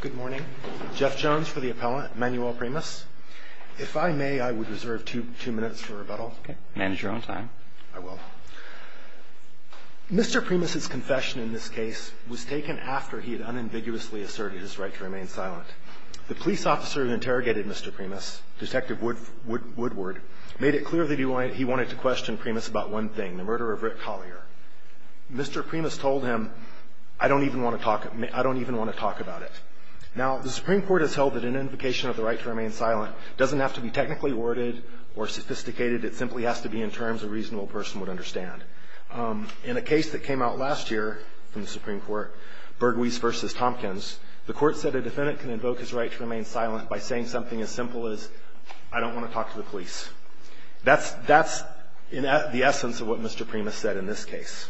Good morning. Jeff Jones for the appellant, Manuel Primas. If I may I would reserve two minutes for rebuttal. Manage your own time. I will. Mr. Primas's confession in this case was taken after he had unambiguously asserted his right to remain silent. The police officer who interrogated Mr. Primas, Detective Woodward, made it clear that he wanted to question Primas about one thing, the murder of Rick Collier. Mr. Primas told him, I don't even want to talk about it. Now the Supreme Court has held that an invocation of the right to remain silent doesn't have to be technically worded or sophisticated. It simply has to be in terms a reasonable person would understand. In a case that came out last year from the Supreme Court, Bergwies v. Tompkins, the court said a defendant can invoke his right to remain silent by saying something as simple as, I don't want to talk to the police. That's the essence of what Mr. Primas said in this case.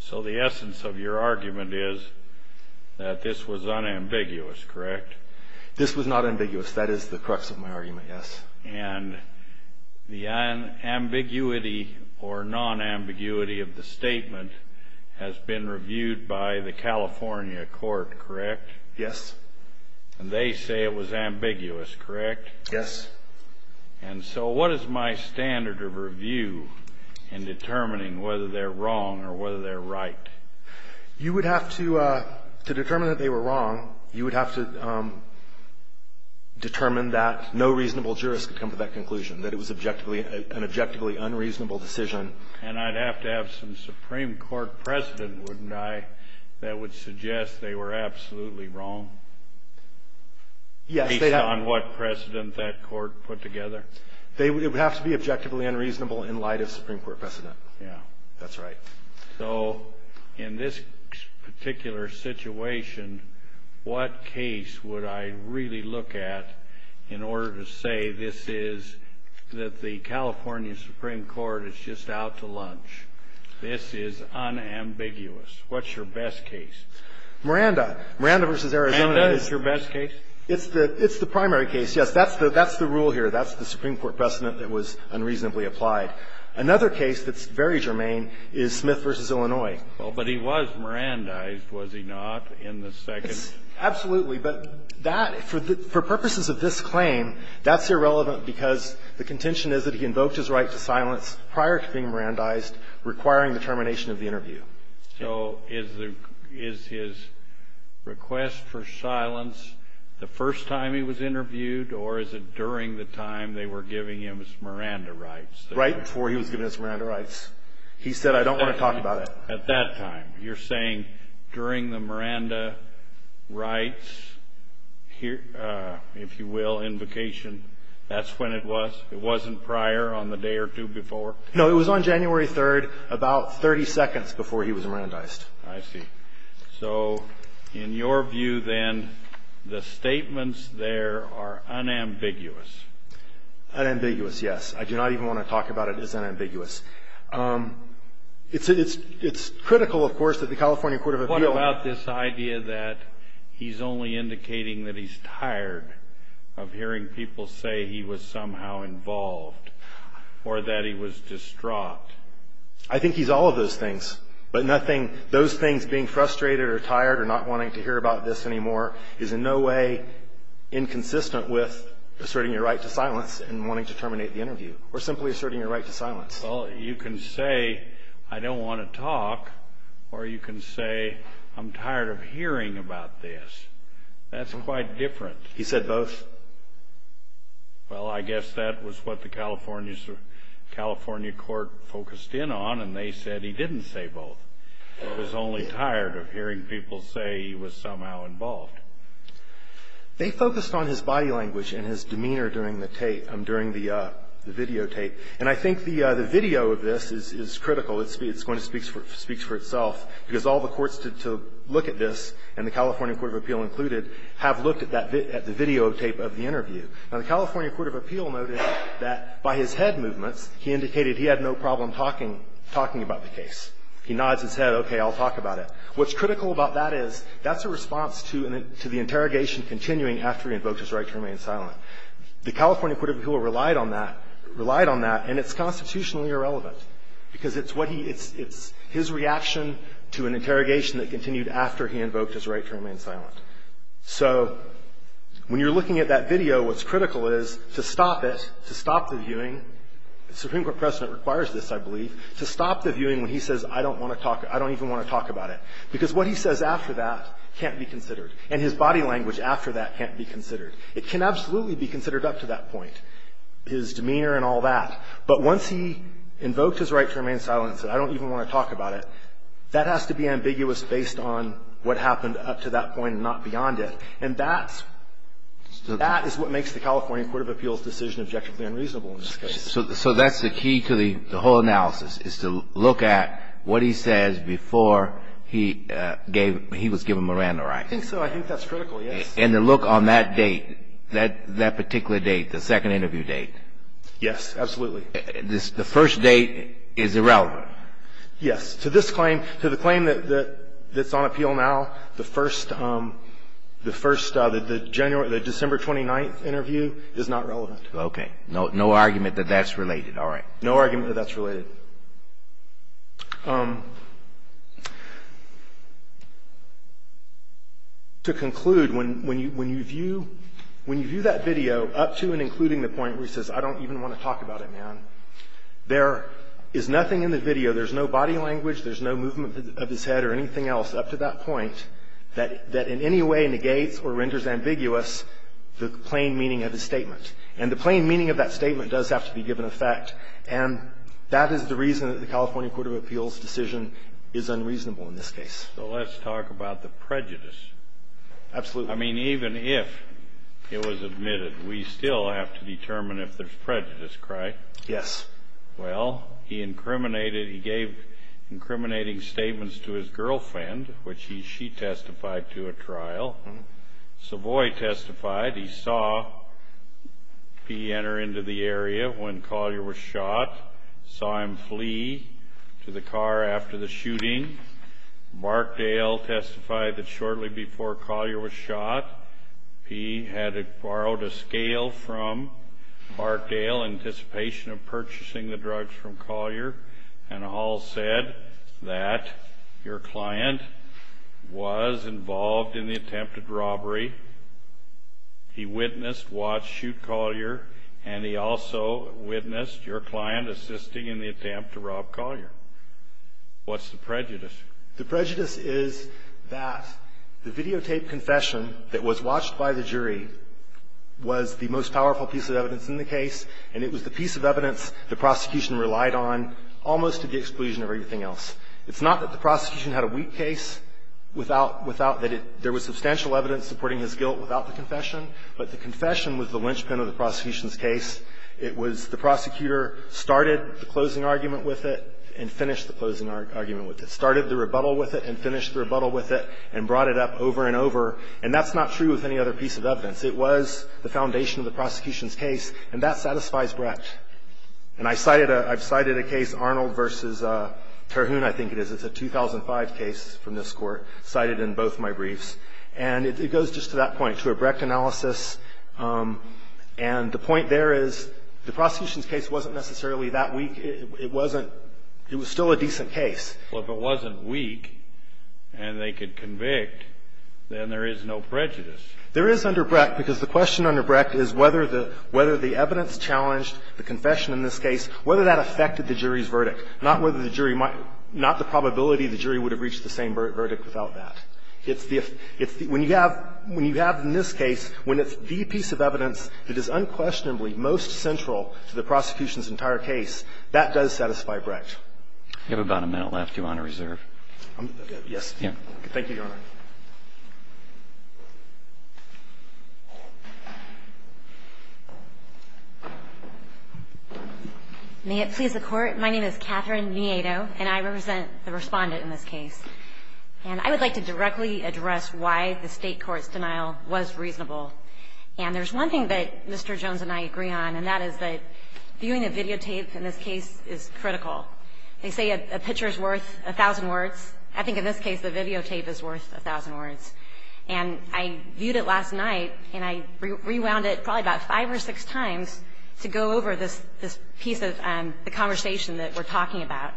So the essence of your argument is that this was unambiguous, correct? This was not ambiguous. That is the crux of my argument, yes. And the ambiguity or non-ambiguity of the statement has been reviewed by the California court, correct? Yes. And they say it was ambiguous, correct? Yes. And so what is my standard of review in determining whether they're wrong or whether they're right? You would have to determine that they were wrong. You would have to determine that no reasonable jurist could come to that conclusion, that it was an objectively unreasonable decision. And I'd have to have some Supreme Court precedent, wouldn't I, that would suggest they were absolutely wrong, based on what precedent that court put together? It would have to be objectively unreasonable in light of Supreme Court precedent, correct? Yes. And so in that situation, what case would I really look at in order to say this is, that the California Supreme Court is just out to lunch? This is unambiguous. What's your best case? Miranda. Miranda v. Arizona is the best case? It's the primary case, yes. That's the rule here. That's the Supreme Court precedent that was unreasonably applied. Another case that's very germane is Smith v. Illinois. Well, but he was Mirandized, was he not, in the second? Absolutely. But that, for purposes of this claim, that's irrelevant because the contention is that he invoked his right to silence prior to being Mirandized, requiring the termination of the interview. So is the – is his request for silence the first time he was interviewed, or is it during the time they were giving him his I don't want to talk about it. At that time. You're saying during the Miranda rights, if you will, invocation, that's when it was? It wasn't prior, on the day or two before? No, it was on January 3rd, about 30 seconds before he was Mirandized. I see. So in your view then, the statements there are unambiguous. Unambiguous, yes. I do not even want to talk about it as unambiguous. It's critical, of course, that the California Court of Appeals What about this idea that he's only indicating that he's tired of hearing people say he was somehow involved or that he was distraught? I think he's all of those things, but nothing – those things, being frustrated or tired or not wanting to hear about this anymore, is in no way inconsistent with asserting your right to silence and wanting to terminate the interview, or simply asserting your right to silence. Well, you can say, I don't want to talk, or you can say, I'm tired of hearing about this. That's quite different. He said both? Well, I guess that was what the California Court focused in on, and they said he didn't say both. He was only tired of hearing people say he was somehow involved. They focused on his body language and his demeanor during the tape, during the videotape. And I think the video of this is critical. It's going to speak for itself, because all the courts to look at this, and the California Court of Appeal included, have looked at the videotape of the interview. Now, the California Court of Appeal noted that by his head movements, he indicated he had no problem talking about the case. He nods his head, okay, I'll talk about it. What's critical about that is that's a response to the interrogation continuing after he invoked his right to remain silent. The California Court of Appeal relied on that, and it's constitutionally irrelevant, because it's what he – it's his reaction to an interrogation that continued after he invoked his right to remain silent. So when you're looking at that video, what's critical is to stop it, to stop the viewing – the Supreme Court precedent requires this, I believe – to stop the viewing when he says, I don't want to talk, I don't even want to talk about it, because what he says after that can't be considered, and his body language after that can't be considered. It can absolutely be considered up to that point, his demeanor and all that. But once he invoked his right to remain silent and said, I don't even want to talk about it, that has to be ambiguous based on what happened up to that point and not beyond it. And that's – that is what makes the California Court of Appeal's decision objectively unreasonable in this case. So that's the key to the whole analysis, is to look at what he says before he gave – he was given Miranda rights. I think so. I think that's critical, yes. And to look on that date, that particular date, the second interview date. Yes, absolutely. The first date is irrelevant. Yes. To this claim – to the claim that's on appeal now, the first – the first – the December 29th interview is not relevant. Okay. No argument that that's related. All right. No argument that that's related. To conclude, when you view – when you view that video up to and including the point where he says, I don't even want to talk about it, man, there is nothing in the video – there's no body language, there's no movement of his head or anything else up to that point that in any way negates or renders ambiguous the plain meaning of his statement. And the plain meaning of that statement does have to be given effect. And that is the reason that the California Court of Appeals' decision is unreasonable in this case. So let's talk about the prejudice. Absolutely. I mean, even if it was admitted, we still have to determine if there's prejudice, correct? Yes. Well, he incriminated – he gave incriminating statements to his girlfriend, which he – she testified to at trial. Savoy testified. He saw P enter into the area when Collier was shot, saw him flee to the car after the shooting. Markdale testified that shortly before Collier was shot, P had borrowed a scale from Markdale in anticipation of purchasing the drugs from Collier, and all said that your client was involved in the attempted robbery. He witnessed, watched, shoot Collier, and he also witnessed your client assisting in the attempt to rob Collier. What's the prejudice? The prejudice is that the videotaped confession that was watched by the jury was the most powerful piece of evidence in the case, and it was the piece of evidence the prosecution relied on almost to the exclusion of everything else. It's not that the prosecution had a weak case without – without – that it – there was substantial evidence supporting his guilt without the confession, but the confession was the linchpin of the prosecution's case. It was the prosecutor started the closing argument with it and finished the closing argument with it, started the rebuttal with it and finished the rebuttal with it and brought it up over and over, and that's not true with any other piece of evidence. It was the foundation of the prosecution's case, and that satisfies Brecht. And I cited a – I've cited a case, Arnold v. Terhune, I think it is. It's a 2005 case from this Court, cited in both my briefs. And it goes just to that point, to a Brecht analysis, and the point there is the prosecution's case wasn't necessarily that weak. It wasn't – it was still a decent case. Well, if it wasn't weak and they could convict, then there is no prejudice. There is under Brecht, because the question under Brecht is whether the – whether the evidence challenged the confession in this case, whether that affected the jury's verdict, not whether the jury might – not the probability the jury would have reached the same verdict without that. It's the – it's the – when you have – when you have in this case, when it's the piece of evidence that is unquestionably most central to the prosecution's entire case, that does satisfy Brecht. You have about a minute left, Your Honor, reserve. I'm – yes. Thank you, Your Honor. May it please the Court, my name is Catherine Nieto, and I represent the Respondent in this case. And I would like to directly address why the State court's denial was reasonable. And there's one thing that Mr. Jones and I agree on, and that is that viewing the videotape in this case is critical. They say a picture is worth a thousand words. I think in this case, the videotape is worth a thousand words. And I viewed it last night, and I rewound it probably about five or six times to go over this piece of the conversation that we're talking about.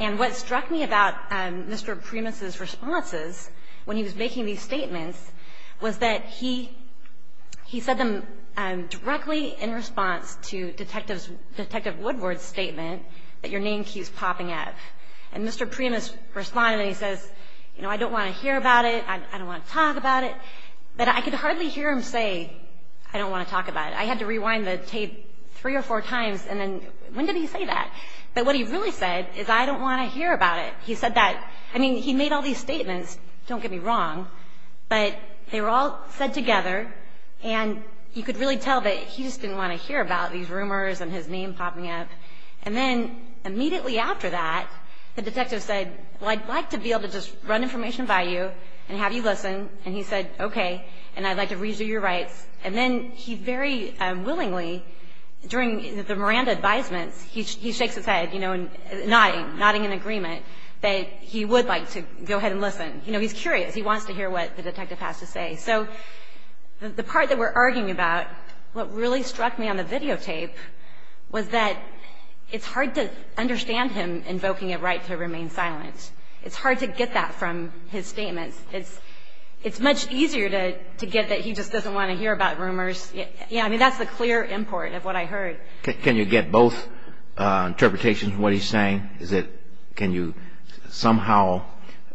And what struck me about Mr. Primus' responses when he was making these statements was that he said them directly in response to Detective Woodward's statement that your name keeps popping up. And Mr. Primus responded, and he says, you know, I don't want to hear about it, I don't want to talk about it. But I could hardly hear him say, I don't want to talk about it. I had to rewind the tape three or four times, and then when did he say that? But what he really said is, I don't want to hear about it. He said that – I mean, he made all these statements, don't get me wrong, but they were all said together. And you could really tell that he just didn't want to hear about these rumors and his name popping up. And then immediately after that, the detective said, well, I'd like to be able to just run information by you and have you listen. And he said, okay, and I'd like to resue your rights. And then he very willingly, during the Miranda advisements, he shakes his head, you know, nodding, nodding in agreement that he would like to go ahead and listen. You know, he's curious. He wants to hear what the detective has to say. So the part that we're arguing about, what really struck me on the videotape was that it's hard to understand him invoking a right to remain silent. It's hard to get that from his statements. It's much easier to get that he just doesn't want to hear about rumors. Yeah, I mean, that's the clear import of what I heard. Can you get both interpretations of what he's saying? Is it – can you somehow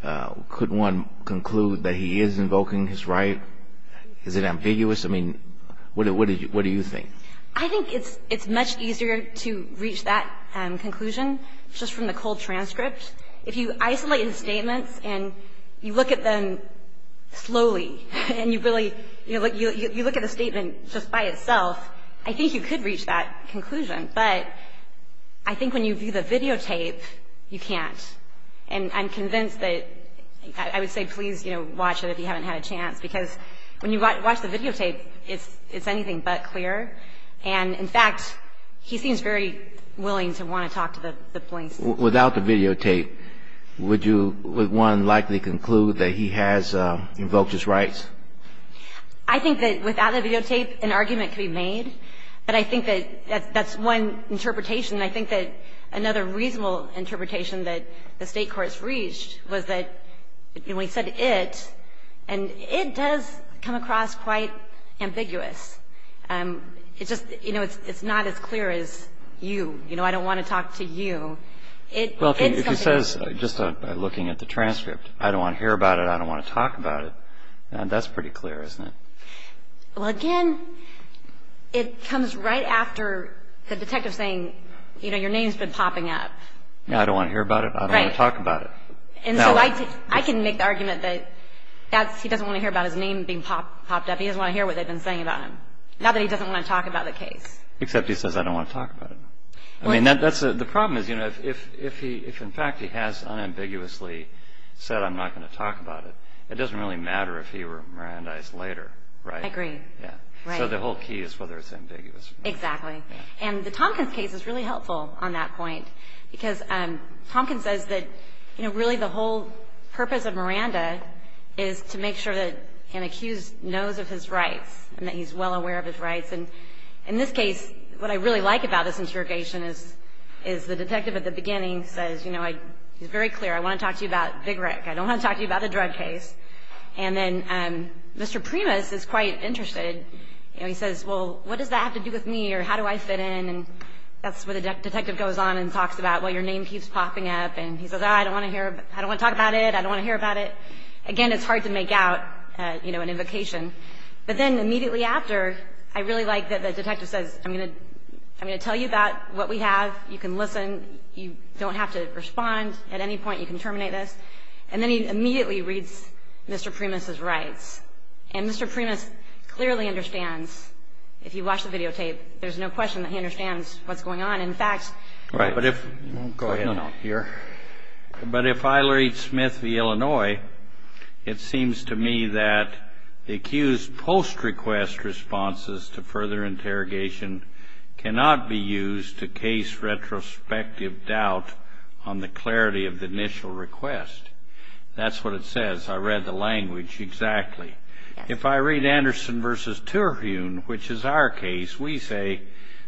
– could one conclude that he is invoking his right? Is it ambiguous? I mean, what do you think? I think it's much easier to reach that conclusion just from the cold transcript. If you isolate his statements and you look at them slowly, and you really – you look at the statement just by itself, I think you could reach that conclusion. But I think when you view the videotape, you can't. And I'm convinced that – I would say please, you know, watch it if you haven't had a chance. Because when you watch the videotape, it's anything but clear. And in fact, he seems very willing to want to talk to the police. Without the videotape, would you – would one likely conclude that he has invoked his rights? I think that without the videotape, an argument could be made. But I think that that's one interpretation. I think that another reasonable interpretation that the State courts reached was that, when we said it, and it does come across quite ambiguous. It's just – you know, it's not as clear as you. You know, I don't want to talk to you. Well, if he says just by looking at the transcript, I don't want to hear about it, I don't want to talk about it, that's pretty clear, isn't it? Well, again, it comes right after the detective saying, you know, your name's been popping up. I don't want to hear about it, I don't want to talk about it. And so I can make the argument that that's – he doesn't want to hear about his name being popped up. He doesn't want to hear what they've been saying about him. Not that he doesn't want to talk about the case. Except he says, I don't want to talk about it. I mean, that's – the problem is, you know, if he – if in fact he has unambiguously said, I'm not going to talk about it, it doesn't really matter if he were Mirandized later, right? I agree. So the whole key is whether it's ambiguous or not. Exactly. And the Tompkins case is really helpful on that point. Because Tompkins says that, you know, really the whole purpose of Miranda is to make sure that an accused knows of his rights and that he's well aware of his rights. And in this case, what I really like about this interrogation is the detective at the beginning says, you know, he's very clear. I want to talk to you about Big Rick. I don't want to talk to you about the drug case. And then Mr. Primus is quite interested. You know, he says, well, what does that have to do with me or how do I fit in? And that's where the detective goes on and talks about, well, your name keeps popping up. And he says, oh, I don't want to hear – I don't want to talk about it. I don't want to hear about it. Again, it's hard to make out, you know, an invocation. But then immediately after, I really like that the detective says, I'm going to – I'm going to tell you about what we have. You can listen. You don't have to respond at any point. You can terminate this. And then he immediately reads Mr. Primus' rights. And Mr. Primus clearly understands, if you watch the videotape, there's no question that he understands what's going on. In fact – Right. But if – go ahead. No, no. You're – But if I read Smith v. Illinois, it seems to me that the accused post-request responses to further interrogation cannot be used to case retrospective doubt on the clarity of the initial request. That's what it says. I read the language exactly. If I read Anderson v. Terhune, which is our case, we say,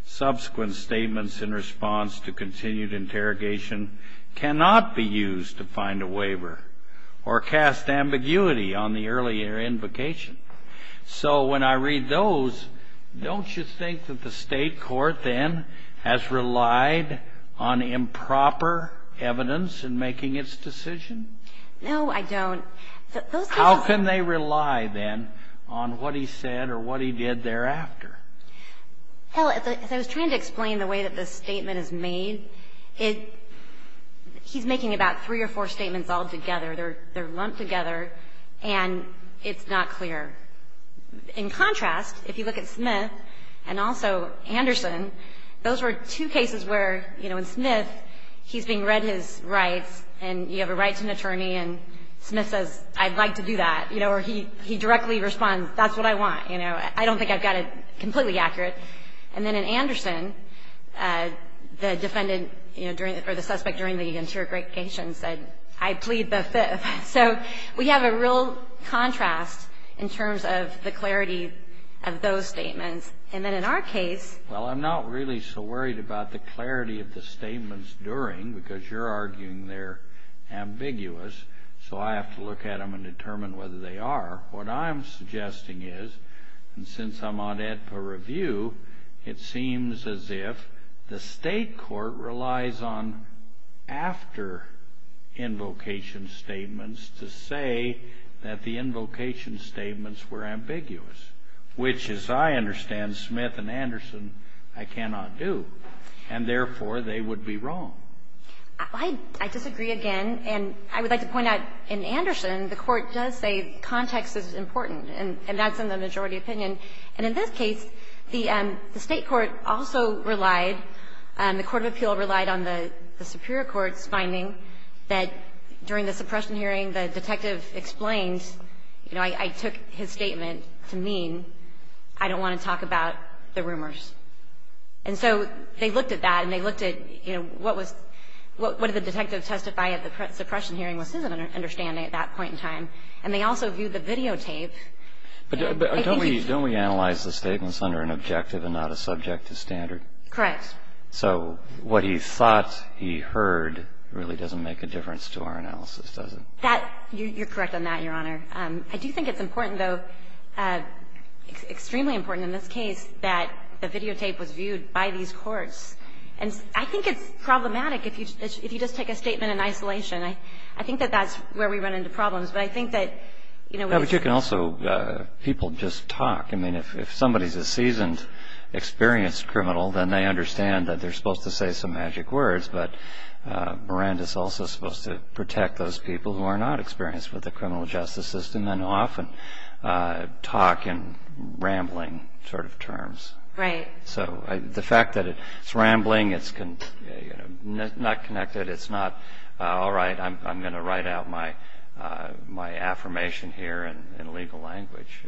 subsequent statements in response to continued interrogation cannot be used to find a waiver or cast ambiguity on the earlier invocation. So when I read those, don't you think that the state court then has relied on improper evidence in making its decision? No, I don't. Those cases – How can they rely, then, on what he said or what he did thereafter? Well, as I was trying to explain the way that this statement is made, it – he's making about three or four statements all together. They're lumped together, and it's not clear. In contrast, if you look at Smith and also Anderson, those were two cases where, you know, in Smith, he's being read his rights, and you have a rights attorney, and Smith says, I'd like to do that, you know, or he directly responds, that's what I want. You know, I don't think I've got it completely accurate. And then in Anderson, the defendant, you know, during – or the suspect during the interrogation said, I plead the fifth. So we have a real contrast in terms of the clarity of those statements. And then in our case – Well, I'm not really so worried about the clarity of the statements during, because you're arguing they're ambiguous, so I have to look at them and determine whether they are. What I'm suggesting is, and since I'm on AEDPA review, it seems as if the state court relies on after-invocation statements to say that the invocation statements were ambiguous, which, as I understand Smith and Anderson, I cannot do. And therefore, they would be wrong. I disagree again, and I would like to point out, in Anderson, the Court does say context is important, and that's in the majority opinion. And in this case, the state court also relied, the court of appeal relied on the superior court's finding that during the suppression hearing, the detective explained, you know, I took his statement to mean, I don't want to talk about the rumors. And so they looked at that, and they looked at, you know, what did the detective testify at the suppression hearing was his understanding at that point in time. And they also viewed the videotape. But don't we analyze the statements under an objective and not a subjective standard? Correct. So what he thought he heard really doesn't make a difference to our analysis, does it? That, you're correct on that, Your Honor. I do think it's important, though, extremely important in this case, that the videotape was viewed by these courts. And I think it's problematic if you just take a statement in isolation. I think that that's where we run into problems. But I think that, you know, it's- Yeah, but you can also, people just talk. I mean, if somebody's a seasoned, experienced criminal, then they understand that they're supposed to say some magic words. But Miranda's also supposed to protect those people who are not experienced with the criminal justice system and often talk in rambling sort of terms. Right. So the fact that it's rambling, it's not connected, it's not, all right, I'm going to write out my affirmation here in legal language,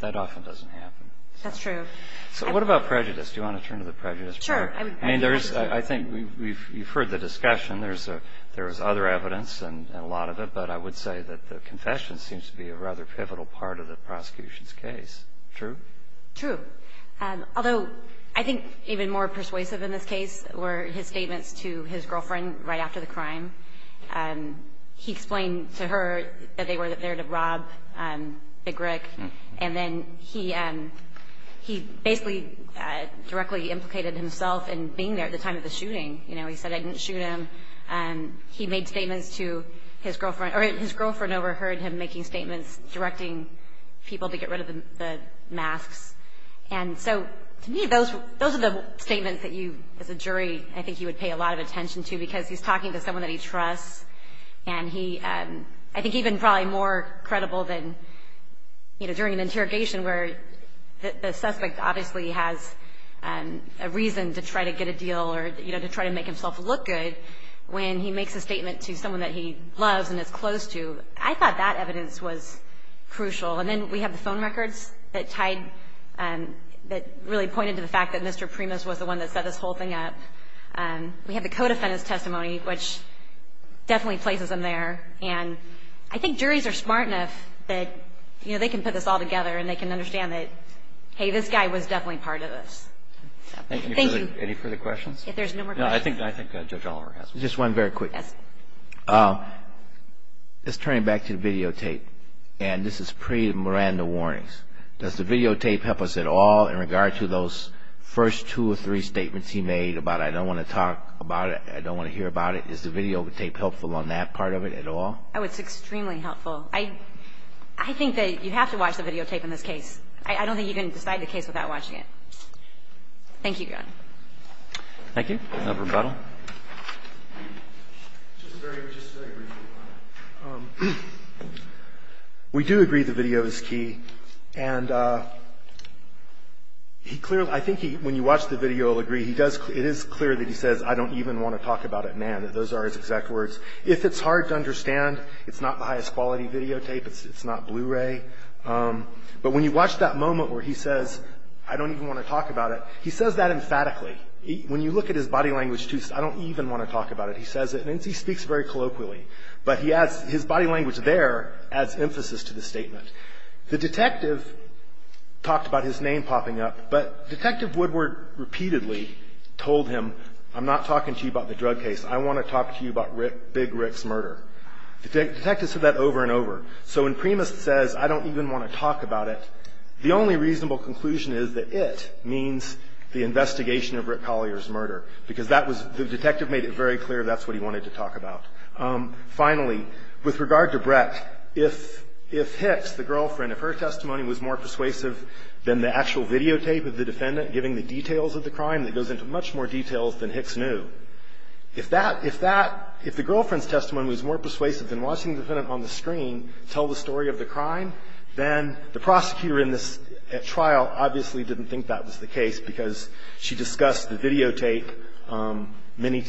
that often doesn't happen. That's true. So what about prejudice? Do you want to turn to the prejudice part? Sure. I mean, I think you've heard the discussion. There's other evidence and a lot of it. But I would say that the confession seems to be a rather pivotal part of the prosecution's case. True? True. Although, I think even more persuasive in this case were his statements to his girlfriend right after the crime. He explained to her that they were there to rob Big Rick. And then he basically directly implicated himself in being there at the time of the shooting. You know, he said, I didn't shoot him. He made statements to his girlfriend, or his girlfriend overheard him making statements, directing people to get rid of the masks. And so to me, those are the statements that you, as a jury, I think you would pay a lot of attention to, because he's talking to someone that he trusts. And he, I think even probably more credible than, you know, during an interrogation where the suspect obviously has a reason to try to get a deal, or, you know, to try to make himself look good when he makes a statement to someone that he loves and is close to. I thought that evidence was crucial. And then we have the phone records that tied, that really pointed to the fact that Mr. Primus was the one that set this whole thing up. We have the co-defendant's testimony, which definitely places him there. And I think juries are smart enough that, you know, they can put this all together, and they can understand that, hey, this guy was definitely part of this. Thank you. Any further questions? If there's no more questions. No, I think Judge Oliver has one. Just one very quick. Yes. Just turning back to the videotape, and this is pre-Miranda warnings. Does the videotape help us at all in regard to those first two or three statements he made about, I don't want to talk about it, I don't want to hear about it? Is the videotape helpful on that part of it at all? Oh, it's extremely helpful. I think that you have to watch the videotape in this case. I don't think you can decide the case without watching it. Thank you, Your Honor. Thank you. No rebuttal. Just a very, just a very brief reply. We do agree the video is key, and he clearly, I think he, when you watch the video, he'll agree, he does, it is clear that he says, I don't even want to talk about it, man, that those are his exact words. If it's hard to understand, it's not the highest quality videotape, it's not Blu-ray. But when you watch that moment where he says, I don't even want to talk about it, he says that emphatically. When you look at his body language, I don't even want to talk about it. He says it, and he speaks very colloquially. But he adds, his body language there adds emphasis to the statement. The detective talked about his name popping up, but Detective Woodward repeatedly told him, I'm not talking to you about the drug case, I want to talk to you about Rick, Big Rick's murder. The detective said that over and over. So when Primus says, I don't even want to talk about it, the only reasonable conclusion is that it means the investigation of Rick Collier's murder. Because that was, the detective made it very clear that's what he wanted to talk about. Finally, with regard to Brett, if Hicks, the girlfriend, if her testimony was more persuasive than the actual videotape of the defendant giving the details of the crime, that goes into much more details than Hicks knew, if that, if that, if the girlfriend's testimony was more persuasive than watching the defendant on the screen tell the story of the crime, then the prosecutor in this trial obviously didn't think that was the case. Because she discussed the videotape many,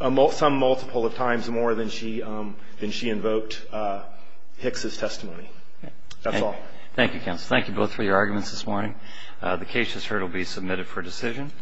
some multiple of times more than she invoked Hicks' testimony. That's all. Thank you, counsel. Thank you both for your arguments this morning. The case, as heard, will be submitted for decision.